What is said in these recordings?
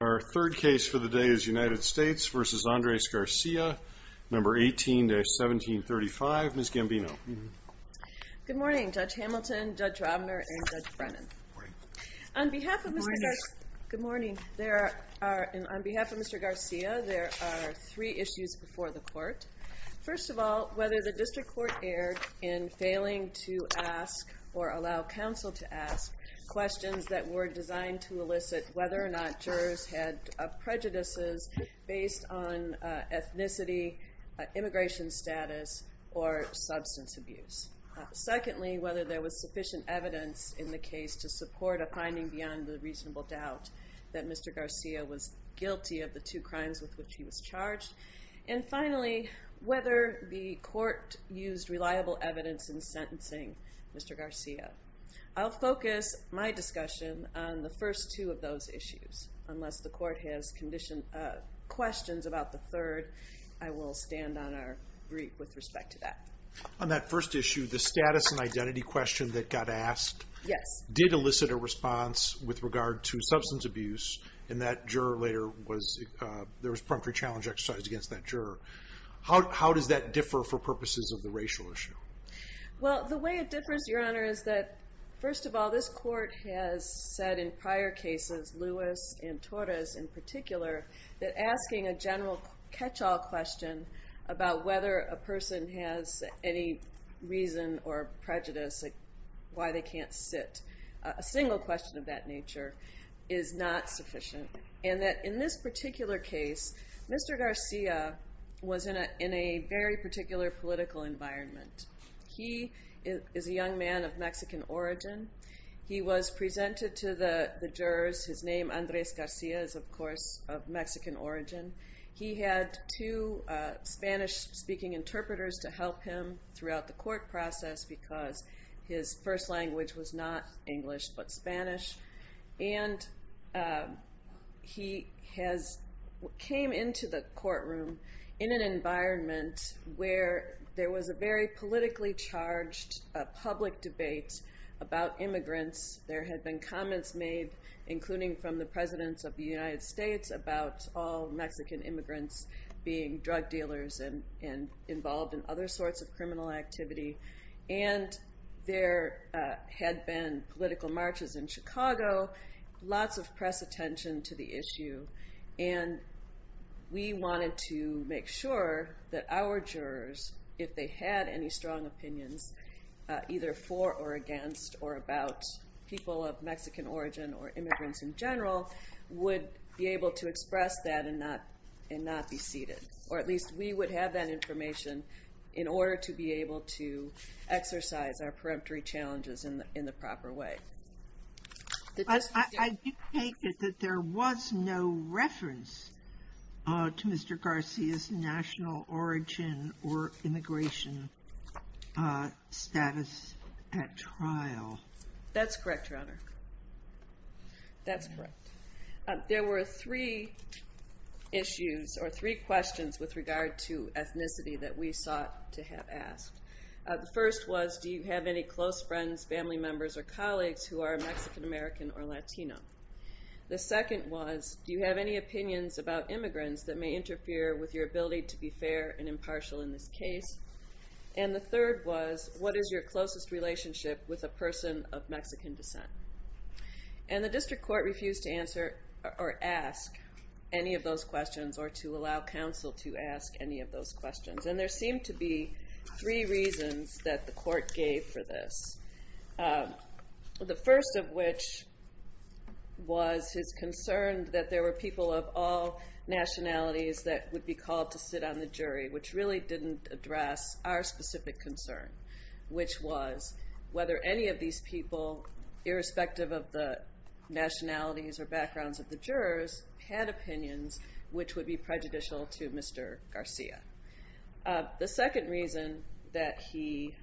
Our third case for the day is United States v. Andres Garcia, No. 18-1735. Ms. Gambino. Good morning, Judge Hamilton, Judge Robner, and Judge Brennan. On behalf of Mr. Garcia, there are three issues before the court. First of all, whether the district court erred in failing to ask or allow counsel to ask questions that were designed to elicit whether or not jurors had prejudices based on ethnicity, immigration status, or substance abuse. Secondly, whether there was sufficient evidence in the case to support a finding beyond the reasonable doubt that Mr. Garcia was guilty of the two crimes with which he was charged. And finally, whether the court used reliable evidence in sentencing Mr. Garcia. I'll focus my discussion on the first two of those issues. Unless the court has questions about the third, I will stand on our brief with respect to that. On that first issue, the status and identity question that got asked, Yes. did elicit a response with regard to substance abuse, and that juror later was, there was preemptory challenge exercised against that juror. How does that differ for purposes of the racial issue? Well, the way it differs, Your Honor, is that first of all, this court has said in prior cases, Lewis and Torres in particular, that asking a general catch-all question about whether a person has any reason or prejudice, like why they can't sit, a single question of that nature, is not sufficient. And that in this particular case, Mr. Garcia was in a very particular political environment. He is a young man of Mexican origin. He was presented to the jurors. His name, Andres Garcia, is, of course, of Mexican origin. He had two Spanish-speaking interpreters to help him throughout the court process because his first language was not English but Spanish. And he came into the courtroom in an environment where there was a very politically charged public debate about immigrants. There had been comments made, including from the presidents of the United States, about all Mexican immigrants being drug dealers and involved in other sorts of criminal activity. And there had been political marches in Chicago, lots of press attention to the issue. And we wanted to make sure that our jurors, if they had any strong opinions, either for or against or about people of Mexican origin or immigrants in general, would be able to express that and not be seated. Or at least we would have that information in order to be able to exercise our peremptory challenges in the proper way. I do take it that there was no reference to Mr. Garcia's national origin or immigration status at trial. That's correct, Your Honor. That's correct. There were three issues or three questions with regard to ethnicity that we sought to have asked. The first was, do you have any close friends, family members, or colleagues who are Mexican-American or Latino? The second was, do you have any opinions about immigrants that may interfere with your ability to be fair and impartial in this case? And the third was, what is your closest relationship with a person of Mexican descent? And the district court refused to answer or ask any of those questions or to allow counsel to ask any of those questions. And there seemed to be three reasons that the court gave for this, the first of which was his concern that there were people of all nationalities that would be called to sit on the jury, which really didn't address our specific concern, which was whether any of these people, irrespective of the nationalities or backgrounds of the jurors, had opinions which would be prejudicial to Mr. Garcia. The second reason that he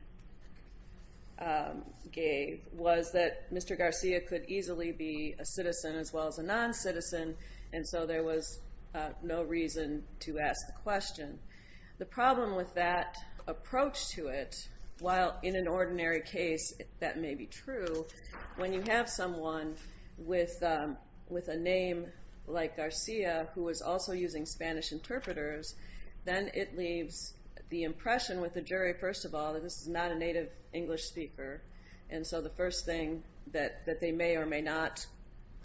gave was that Mr. Garcia could easily be a citizen as well as a non-citizen, and so there was no reason to ask the question. The problem with that approach to it, while in an ordinary case that may be true, when you have someone with a name like Garcia who is also using Spanish interpreters, then it leaves the impression with the jury, first of all, that this is not a native English speaker, and so the first thing that they may or may not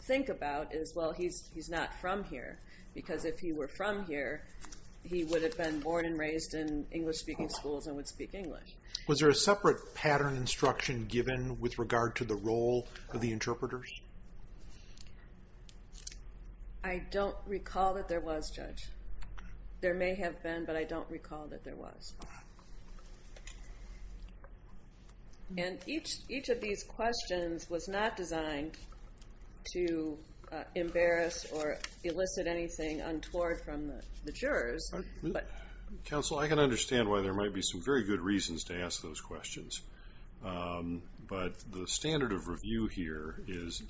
think about is, well, he's not from here, because if he were from here, he would have been born and raised in English-speaking schools and would speak English. Was there a separate pattern instruction given with regard to the role of the interpreters? I don't recall that there was, Judge. There may have been, but I don't recall that there was. And each of these questions was not designed to embarrass or elicit anything untoward from the jurors. Counsel, I can understand why there might be some very good reasons to ask those questions, but the standard of review here is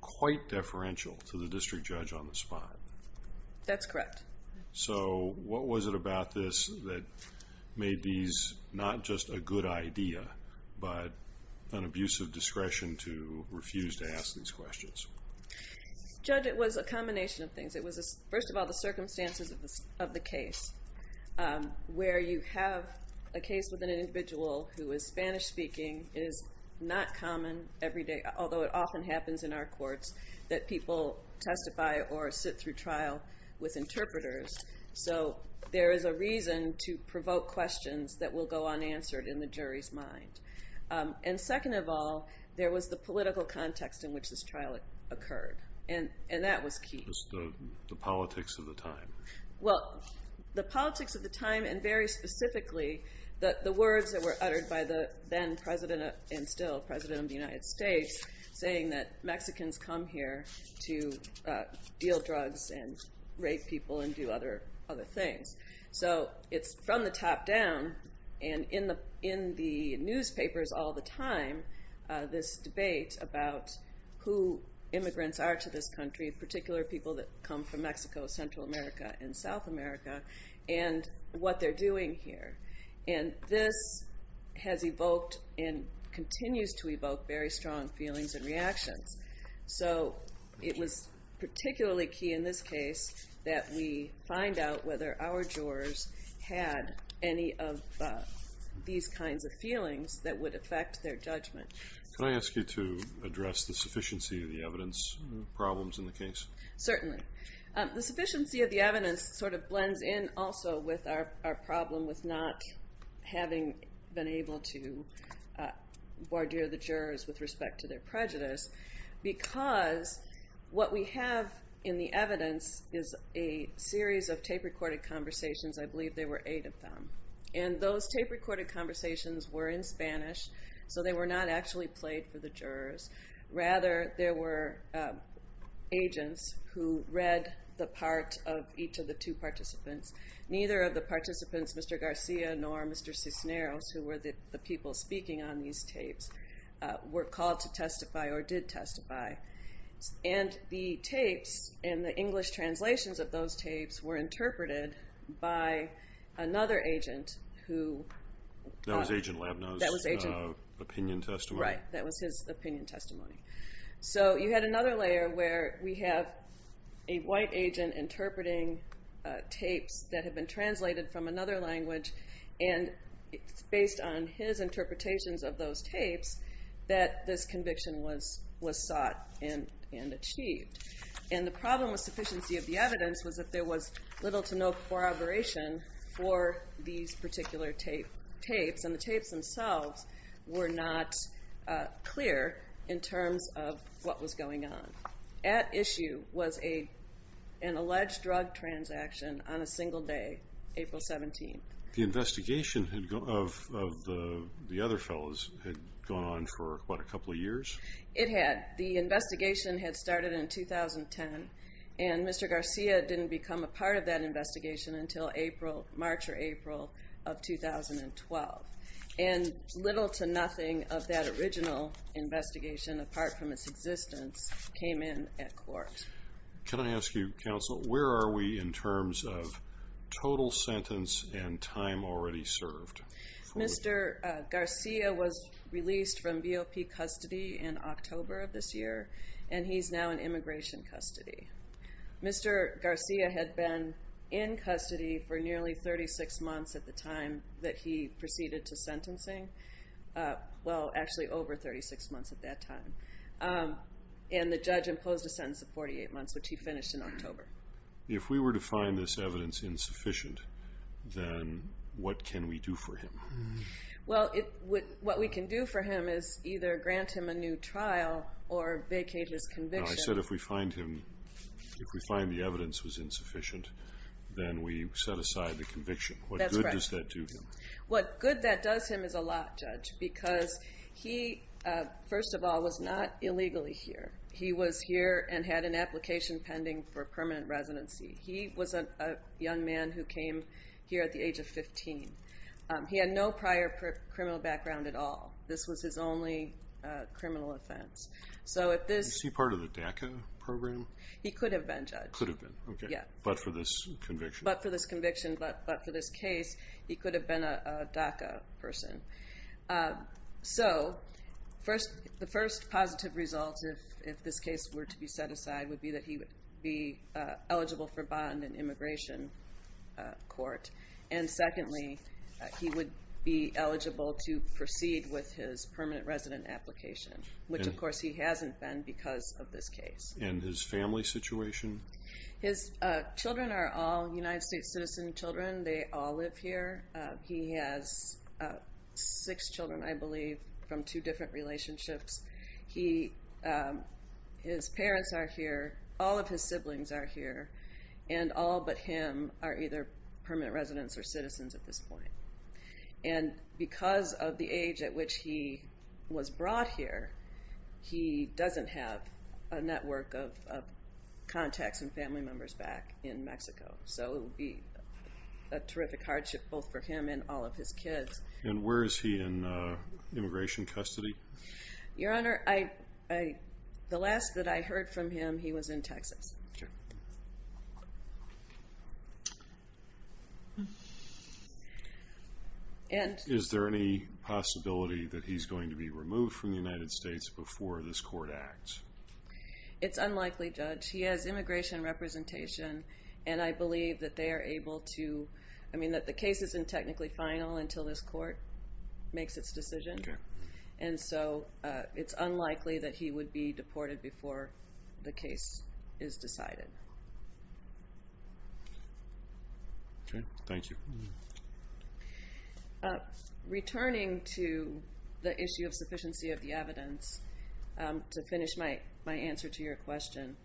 quite deferential to the district judge on the spot. That's correct. So what was it about this that made these not just a good idea, but an abuse of discretion to refuse to ask these questions? Judge, it was a combination of things. It was, first of all, the circumstances of the case, where you have a case with an individual who is Spanish-speaking. It is not common every day, although it often happens in our courts, that people testify or sit through trial with interpreters. So there is a reason to provoke questions that will go unanswered in the jury's mind. And second of all, there was the political context in which this trial occurred, and that was key. It was the politics of the time. Well, the politics of the time, and very specifically the words that were uttered by the then president and still president of the United States, saying that Mexicans come here to deal drugs and rape people and do other things. So it's from the top down, and in the newspapers all the time, this debate about who immigrants are to this country, in particular people that come from Mexico, Central America, and South America, and what they're doing here. And this has evoked and continues to evoke very strong feelings and reactions. So it was particularly key in this case that we find out whether our jurors had any of these kinds of feelings that would affect their judgment. Can I ask you to address the sufficiency of the evidence problems in the case? Certainly. The sufficiency of the evidence sort of blends in also with our problem with not having been able to wardeer the jurors with respect to their prejudice, because what we have in the evidence is a series of tape-recorded conversations. I believe there were eight of them. And those tape-recorded conversations were in Spanish, so they were not actually played for the jurors. Rather, there were agents who read the part of each of the two participants. Neither of the participants, Mr. Garcia nor Mr. Cisneros, who were the people speaking on these tapes, were called to testify or did testify. And the tapes and the English translations of those tapes were interpreted by another agent who- That was Agent Labna's opinion testimony. Right, that was his opinion testimony. So you had another layer where we have a white agent interpreting tapes that have been translated from another language, and it's based on his interpretations of those tapes that this conviction was sought and achieved. And the problem with sufficiency of the evidence was that there was little to no corroboration for these particular tapes, and the tapes themselves were not clear in terms of what was going on. At issue was an alleged drug transaction on a single day, April 17th. The investigation of the other fellows had gone on for, what, a couple of years? It had. The investigation had started in 2010, and Mr. Garcia didn't become a part of that investigation until March or April of 2012. And little to nothing of that original investigation, apart from its existence, came in at court. Can I ask you, Counsel, where are we in terms of total sentence and time already served? Mr. Garcia was released from BOP custody in October of this year, and he's now in immigration custody. Mr. Garcia had been in custody for nearly 36 months at the time that he proceeded to sentencing. Well, actually over 36 months at that time. And the judge imposed a sentence of 48 months, which he finished in October. If we were to find this evidence insufficient, then what can we do for him? Well, what we can do for him is either grant him a new trial or vacate his conviction. I said if we find the evidence was insufficient, then we set aside the conviction. That's correct. What good does that do him? What good that does him is a lot, Judge, because he, first of all, was not illegally here. He was here and had an application pending for permanent residency. He was a young man who came here at the age of 15. He had no prior criminal background at all. This was his only criminal offense. Do you see part of the DACA program? He could have been, Judge. Could have been, okay, but for this conviction. But for this conviction, but for this case, he could have been a DACA person. So the first positive result, if this case were to be set aside, would be that he would be eligible for bond and immigration court. And secondly, he would be eligible to proceed with his permanent resident application, which, of course, he hasn't been because of this case. And his family situation? His children are all United States citizen children. They all live here. He has six children, I believe, from two different relationships. His parents are here. All of his siblings are here. And all but him are either permanent residents or citizens at this point. And because of the age at which he was brought here, he doesn't have a network of contacts and family members back in Mexico. So it would be a terrific hardship both for him and all of his kids. And where is he in immigration custody? Your Honor, the last that I heard from him, he was in Texas. Sure. Is there any possibility that he's going to be removed from the United States before this court acts? It's unlikely, Judge. He has immigration representation, and I believe that they are able to ‑‑ I mean that the case isn't technically final until this court makes its decision. And so it's unlikely that he would be deported before the case is decided. Okay. Thank you. Returning to the issue of sufficiency of the evidence, to finish my answer to your question,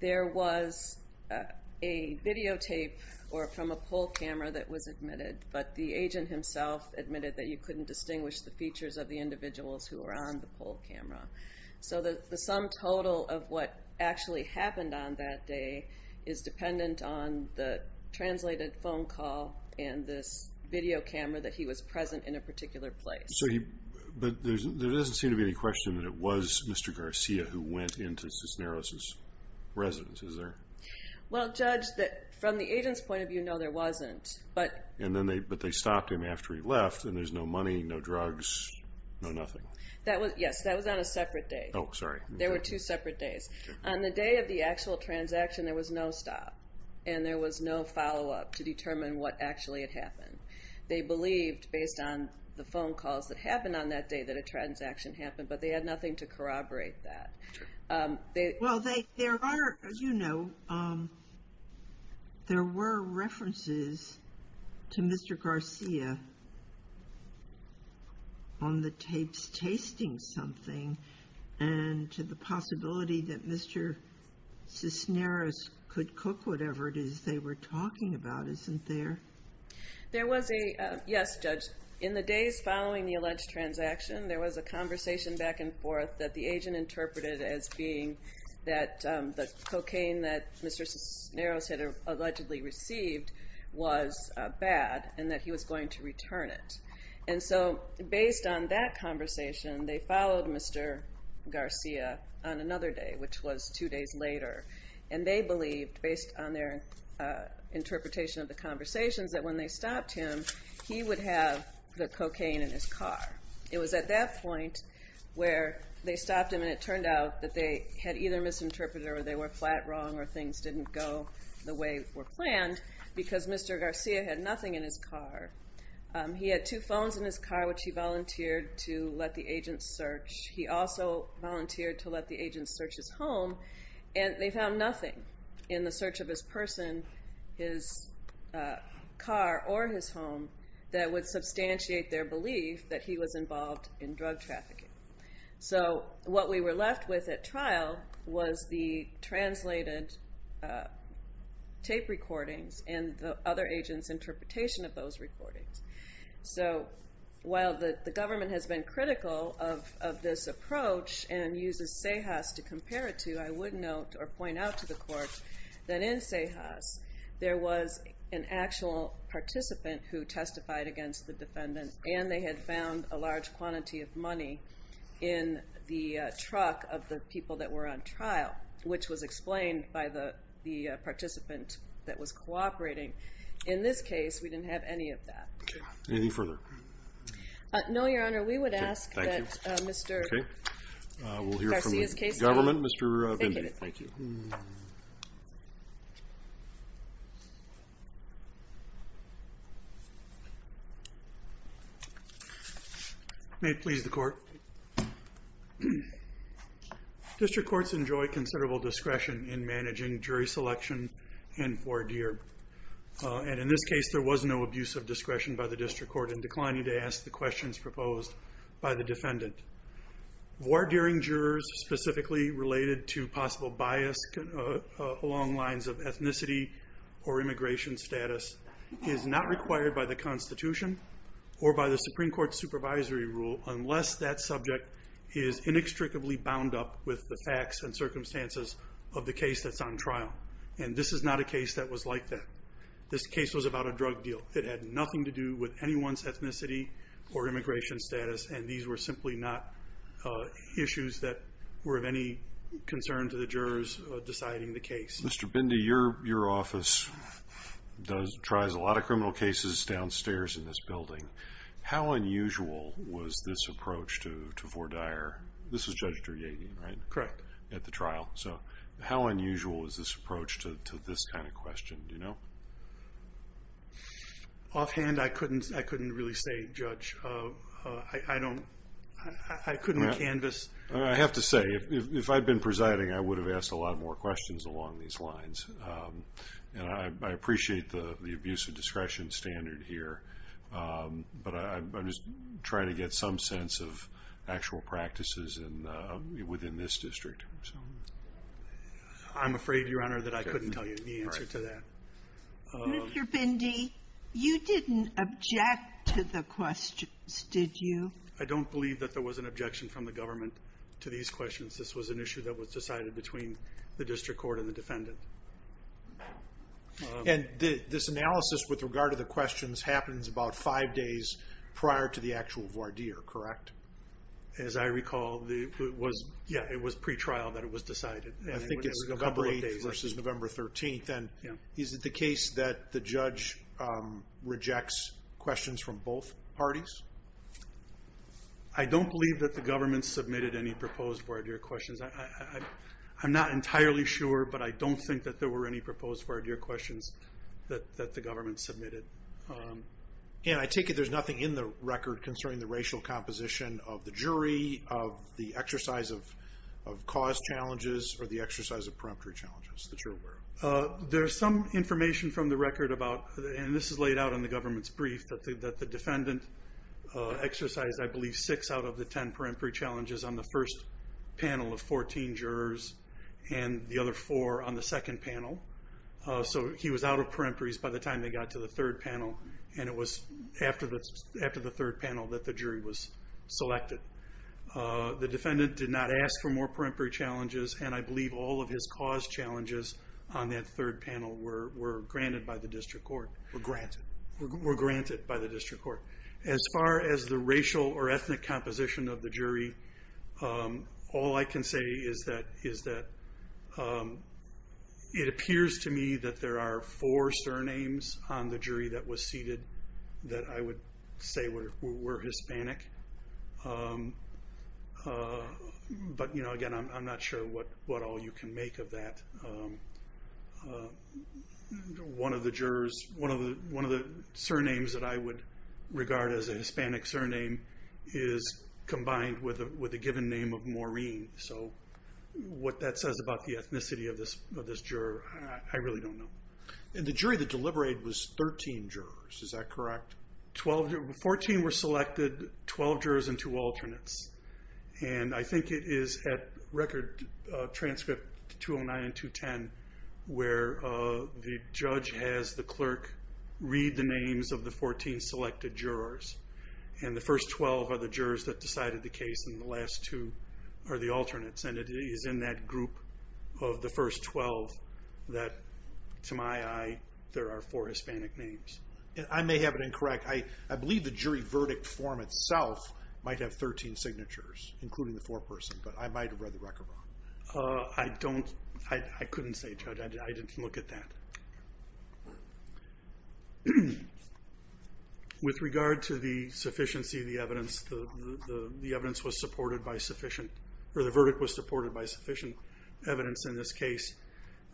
there was a videotape from a poll camera that was admitted, but the agent himself admitted that you couldn't distinguish the features of the individuals who were on the poll camera. So the sum total of what actually happened on that day is dependent on the translated phone call and this video camera that he was present in a particular place. But there doesn't seem to be any question that it was Mr. Garcia who went into Cisneros' residence, is there? Well, Judge, from the agent's point of view, no, there wasn't. But they stopped him after he left, and there's no money, no drugs, no nothing. Yes, that was on a separate day. Oh, sorry. There were two separate days. On the day of the actual transaction, there was no stop, and there was no follow-up to determine what actually had happened. They believed, based on the phone calls that happened on that day, that a transaction happened, but they had nothing to corroborate that. Well, there are, as you know, there were references to Mr. Garcia on the tapes, and to the possibility that Mr. Cisneros could cook whatever it is they were talking about, isn't there? Yes, Judge. In the days following the alleged transaction, there was a conversation back and forth that the agent interpreted as being that the cocaine that Mr. Cisneros had allegedly received was bad, and that he was going to return it. And so based on that conversation, they followed Mr. Garcia on another day, which was two days later, and they believed, based on their interpretation of the conversations, that when they stopped him, he would have the cocaine in his car. It was at that point where they stopped him, and it turned out that they had either misinterpreted or they were flat wrong or things didn't go the way were planned, because Mr. Garcia had nothing in his car. He had two phones in his car, which he volunteered to let the agents search. He also volunteered to let the agents search his home, and they found nothing in the search of his person, his car, or his home, that would substantiate their belief that he was involved in drug trafficking. So what we were left with at trial was the translated tape recordings and the other agents' interpretation of those recordings. So while the government has been critical of this approach and uses CEJAS to compare it to, I would note or point out to the court that in CEJAS, there was an actual participant who testified against the defendant, and they had found a large quantity of money in the truck of the people that were on trial, which was explained by the participant that was cooperating. In this case, we didn't have any of that. Anything further? No, Your Honor. We would ask that Mr. Garcia's case trial. We'll hear from the government. Mr. Venditti. Thank you. May it please the Court. District courts enjoy considerable discretion in managing jury selection and voir dire, and in this case there was no abuse of discretion by the district court in declining to ask the questions proposed by the defendant. Voir direing jurors specifically related to possible bias along lines of ethnicity or immigration status is not required by the Constitution or by the Supreme Court's supervisory rule unless that subject is inextricably bound up with the facts and circumstances of the case that's on trial, and this is not a case that was like that. This case was about a drug deal. It had nothing to do with anyone's ethnicity or immigration status, and these were simply not issues that were of any concern to the jurors deciding the case. Mr. Venditti, your office tries a lot of criminal cases downstairs in this building. How unusual was this approach to voir dire? This was Judge Duryegi, right? Correct. At the trial. So how unusual was this approach to this kind of question? Do you know? Offhand, I couldn't really say, Judge. I couldn't canvass. I have to say, if I'd been presiding, I would have asked a lot more questions along these lines, and I appreciate the abuse of discretion standard here, but I'm just trying to get some sense of actual practices within this district. I'm afraid, Your Honor, that I couldn't tell you the answer to that. Mr. Venditti, you didn't object to the questions, did you? I don't believe that there was an objection from the government to these questions. This was an issue that was decided between the district court and the defendant. And this analysis with regard to the questions happens about five days prior to the actual voir dire, correct? As I recall, it was pretrial that it was decided. I think it's November 8th versus November 13th. And is it the case that the judge rejects questions from both parties? I don't believe that the government submitted any proposed voir dire questions. I'm not entirely sure, but I don't think that there were any proposed voir dire questions that the government submitted. And I take it there's nothing in the record concerning the racial composition of the jury, of the exercise of cause challenges, or the exercise of preemptory challenges that you're aware of. There's some information from the record about, and this is laid out in the government's brief, that the defendant exercised, I believe, six out of the ten preemptory challenges on the first panel of 14 jurors, and the other four on the second panel. So he was out of preemptories by the time they got to the third panel, and it was after the third panel that the jury was selected. The defendant did not ask for more preemptory challenges, and I believe all of his cause challenges on that third panel were granted by the district court. Were granted? Were granted by the district court. As far as the racial or ethnic composition of the jury, all I can say is that it appears to me that there are four surnames on the jury that was seated that I would say were Hispanic. But again, I'm not sure what all you can make of that. One of the jurors, one of the surnames that I would regard as a Hispanic surname is combined with a given name of Maureen. So what that says about the ethnicity of this juror, I really don't know. And the jury that deliberated was 13 jurors, is that correct? Fourteen were selected, 12 jurors and two alternates. And I think it is at record transcript 209 and 210 where the judge has the clerk read the names of the 14 selected jurors. And the first 12 are the jurors that decided the case, and the last two are the alternates. And it is in that group of the first 12 that, to my eye, there are four Hispanic names. I may have it incorrect. I believe the jury verdict form itself might have 13 signatures, including the four person. But I might have read the record wrong. I couldn't say, Judge. I didn't look at that. With regard to the sufficiency of the evidence, the verdict was supported by sufficient evidence in this case.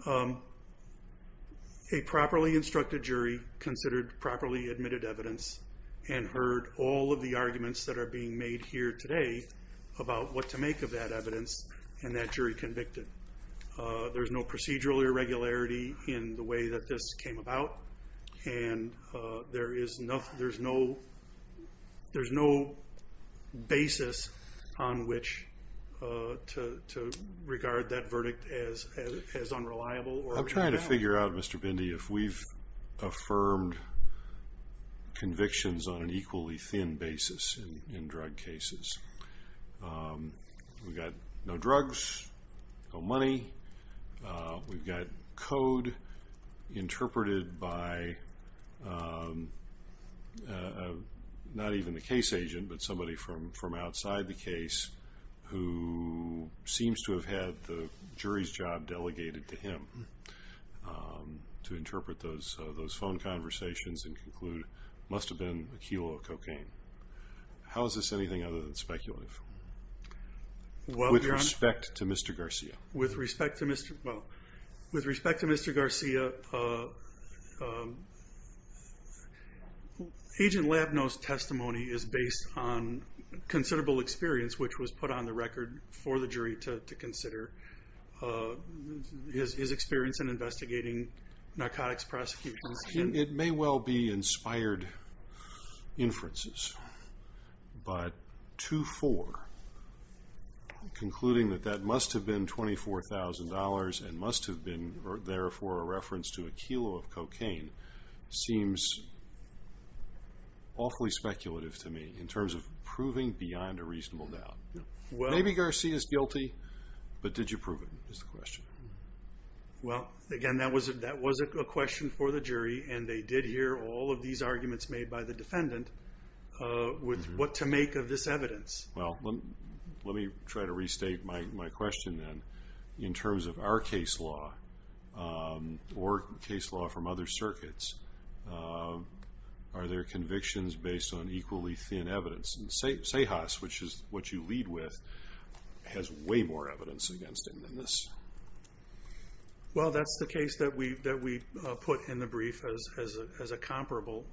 A properly instructed jury considered properly admitted evidence and heard all of the arguments that are being made here today about what to make of that evidence, and that jury convicted. There's no procedural irregularity in the way that this came about. And there is no basis on which to regard that verdict as unreliable. I'm trying to figure out, Mr. Bindi, if we've affirmed convictions on an equally thin basis in drug cases. We've got no drugs, no money. We've got code interpreted by not even the case agent, but somebody from outside the case who seems to have had the jury's job delegated to him to interpret those phone conversations and conclude it must have been a kilo of cocaine. How is this anything other than speculative, with respect to Mr. Garcia? With respect to Mr. Garcia, Agent Labneau's testimony is based on considerable experience, which was put on the record for the jury to consider his experience in investigating narcotics prosecutions. It may well be inspired inferences, but 2-4, concluding that that must have been $24,000 and must have been, therefore, a reference to a kilo of cocaine, seems awfully speculative to me in terms of proving beyond a reasonable doubt. Maybe Garcia's guilty, but did you prove it, is the question. Well, again, that was a question for the jury, and they did hear all of these arguments made by the defendant with what to make of this evidence. Well, let me try to restate my question then. In terms of our case law or case law from other circuits, are there convictions based on equally thin evidence? And Cejas, which is what you lead with, has way more evidence against him than this. Well, that's the case that we put in the brief as a comparable.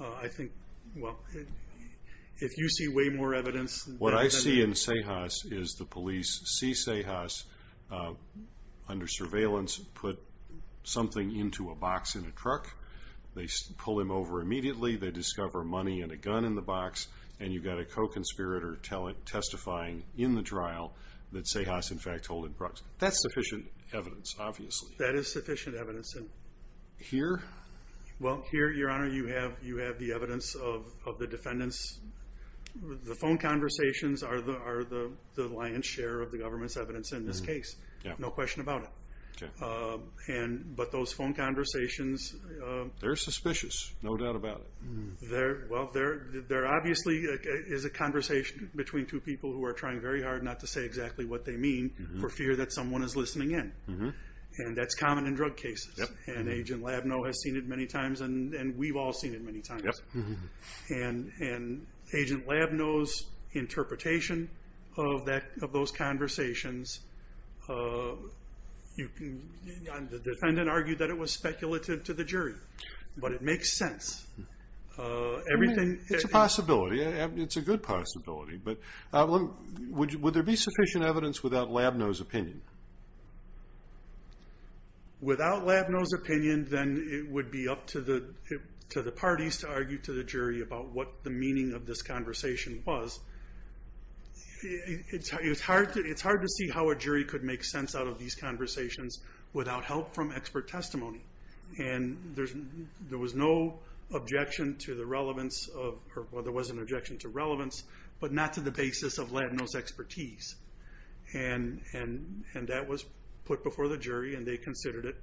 I think, well, if you see way more evidence than that. What I see in Cejas is the police see Cejas under surveillance, put something into a box in a truck. They pull him over immediately. They discover money and a gun in the box, and you've got a co-conspirator testifying in the trial that Cejas, in fact, holded drugs. That's sufficient evidence, obviously. That is sufficient evidence. Here? Well, here, Your Honor, you have the evidence of the defendants. The phone conversations are the lion's share of the government's evidence in this case. No question about it. But those phone conversations. They're suspicious, no doubt about it. Well, there obviously is a conversation between two people who are trying very hard not to say exactly what they mean for fear that someone is listening in. And that's common in drug cases. And Agent Labneau has seen it many times, and we've all seen it many times. And Agent Labneau's interpretation of those conversations, the defendant argued that it was speculative to the jury. But it makes sense. It's a possibility. It's a good possibility. Without Labneau's opinion, then it would be up to the parties to argue to the jury about what the meaning of this conversation was. It's hard to see how a jury could make sense out of these conversations without help from expert testimony. And there was no objection to the relevance of, or there was an objection to relevance, and that was put before the jury, and they considered it.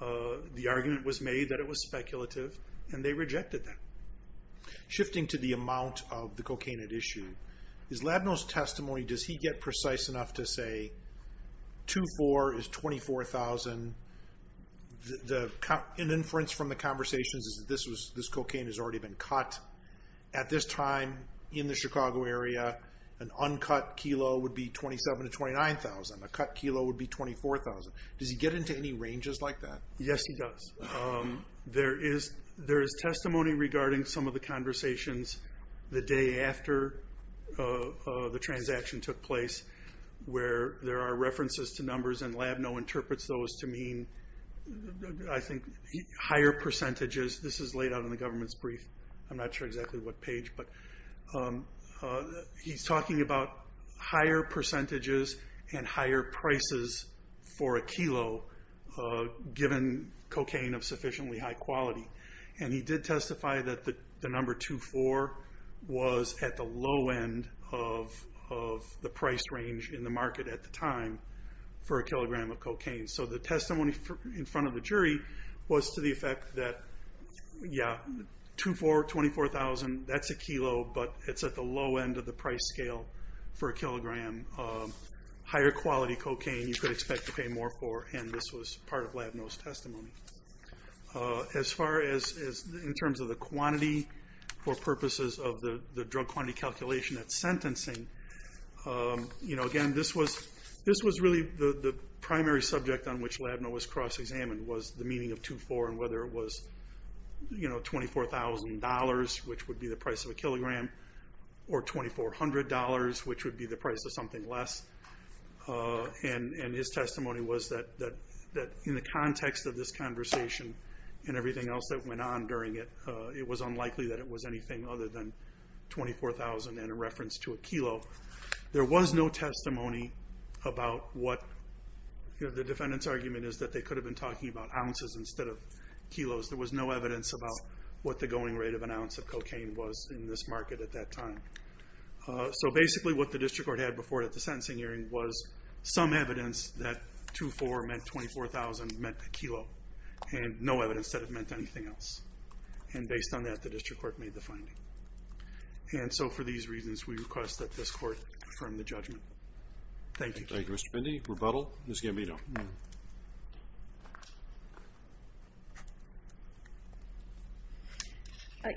The argument was made that it was speculative, and they rejected that. Shifting to the amount of the cocaine at issue, is Labneau's testimony, does he get precise enough to say, 2-4 is 24,000. An inference from the conversations is that this cocaine has already been cut. At this time in the Chicago area, an uncut kilo would be 27,000 to 29,000. A cut kilo would be 24,000. Does he get into any ranges like that? Yes, he does. There is testimony regarding some of the conversations the day after the transaction took place where there are references to numbers, and Labneau interprets those to mean, I think, higher percentages. This is laid out in the government's brief. I'm not sure exactly what page, but he's talking about higher percentages and higher prices for a kilo given cocaine of sufficiently high quality. And he did testify that the number 2-4 was at the low end of the price range in the market at the time for a kilogram of cocaine. So the testimony in front of the jury was to the effect that, yeah, 2-4, 24,000, that's a kilo, but it's at the low end of the price scale for a kilogram of higher quality cocaine you could expect to pay more for, and this was part of Labneau's testimony. As far as in terms of the quantity for purposes of the drug quantity calculation at sentencing, again, this was really the primary subject on which Labneau was cross-examined, was the meaning of 2-4 and whether it was $24,000, which would be the price of a kilogram, or $2,400, which would be the price of something less. And his testimony was that in the context of this conversation and everything else that went on during it, it was unlikely that it was anything other than 24,000 in reference to a kilo. There was no testimony about what the defendant's argument is that they could have been talking about ounces instead of kilos. There was no evidence about what the going rate of an ounce of cocaine was in this market at that time. So basically what the district court had before the sentencing hearing was some evidence that 2-4 meant 24,000 meant a kilo, and no evidence that it meant anything else. And based on that, the district court made the finding. And so for these reasons, we request that this court affirm the judgment. Thank you. Thank you, Mr. Bindy. Rebuttal, Ms. Gambino.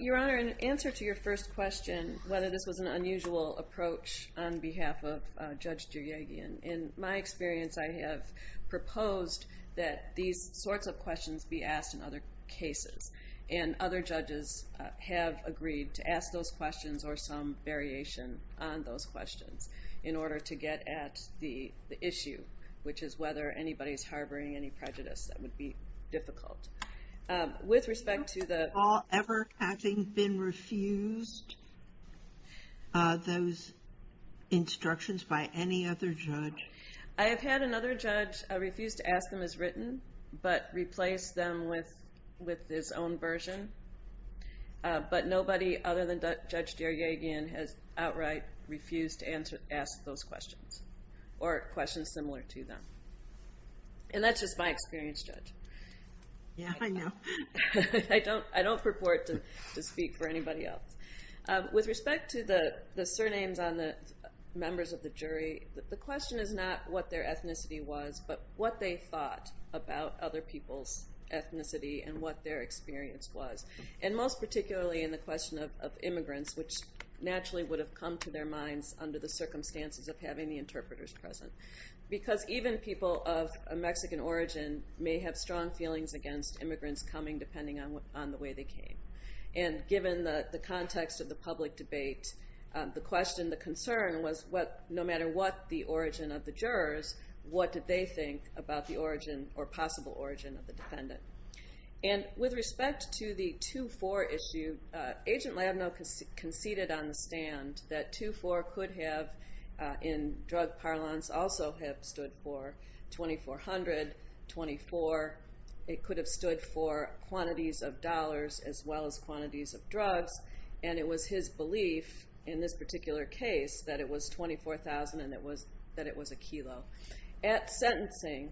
Your Honor, in answer to your first question, whether this was an unusual approach on behalf of Judge Giughi, in my experience, I have proposed that these sorts of questions be asked in other cases. And other judges have agreed to ask those questions, or some variation on those questions, in order to get at the issue, which is whether anybody is harboring any prejudice. That would be difficult. With respect to the- Have you all ever having been refused those instructions by any other judge? I have had another judge refuse to ask them as written, but replace them with his own version. But nobody other than Judge Deryagian has outright refused to ask those questions, or questions similar to them. And that's just my experience, Judge. Yeah, I know. I don't purport to speak for anybody else. With respect to the surnames on the members of the jury, the question is not what their ethnicity was, but what they thought about other people's ethnicity and what their experience was. And most particularly in the question of immigrants, which naturally would have come to their minds under the circumstances of having the interpreters present. Because even people of Mexican origin may have strong feelings against immigrants coming, depending on the way they came. And given the context of the public debate, the question, the concern, was no matter what the origin of the jurors, what did they think about the origin or possible origin of the defendant? And with respect to the 2-4 issue, Agent Labneau conceded on the stand that 2-4 could have, in drug parlance, also have stood for 2,400, 24. It could have stood for quantities of dollars as well as quantities of drugs. And it was his belief in this particular case that it was 24,000 and that it was a kilo. At sentencing,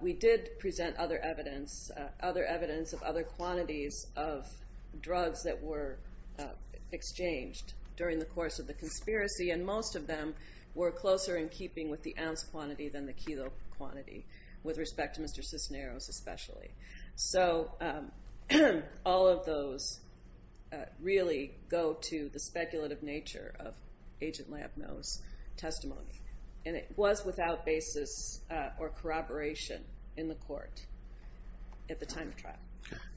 we did present other evidence, other evidence of other quantities of drugs that were exchanged during the course of the conspiracy. And most of them were closer in keeping with the ounce quantity than the kilo quantity. With respect to Mr. Cisneros especially. So all of those really go to the speculative nature of Agent Labneau's testimony. And it was without basis or corroboration in the court at the time of trial.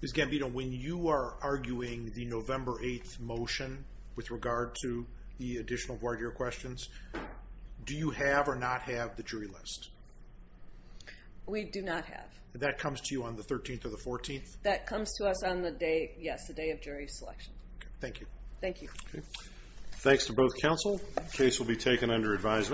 Ms. Gambino, when you are arguing the November 8th motion with regard to the additional board year questions, do you have or not have the jury list? We do not have. That comes to you on the 13th or the 14th? That comes to us on the day, yes, the day of jury selection. Thank you. Thank you. Thanks to both counsel. The case will be taken under advisement.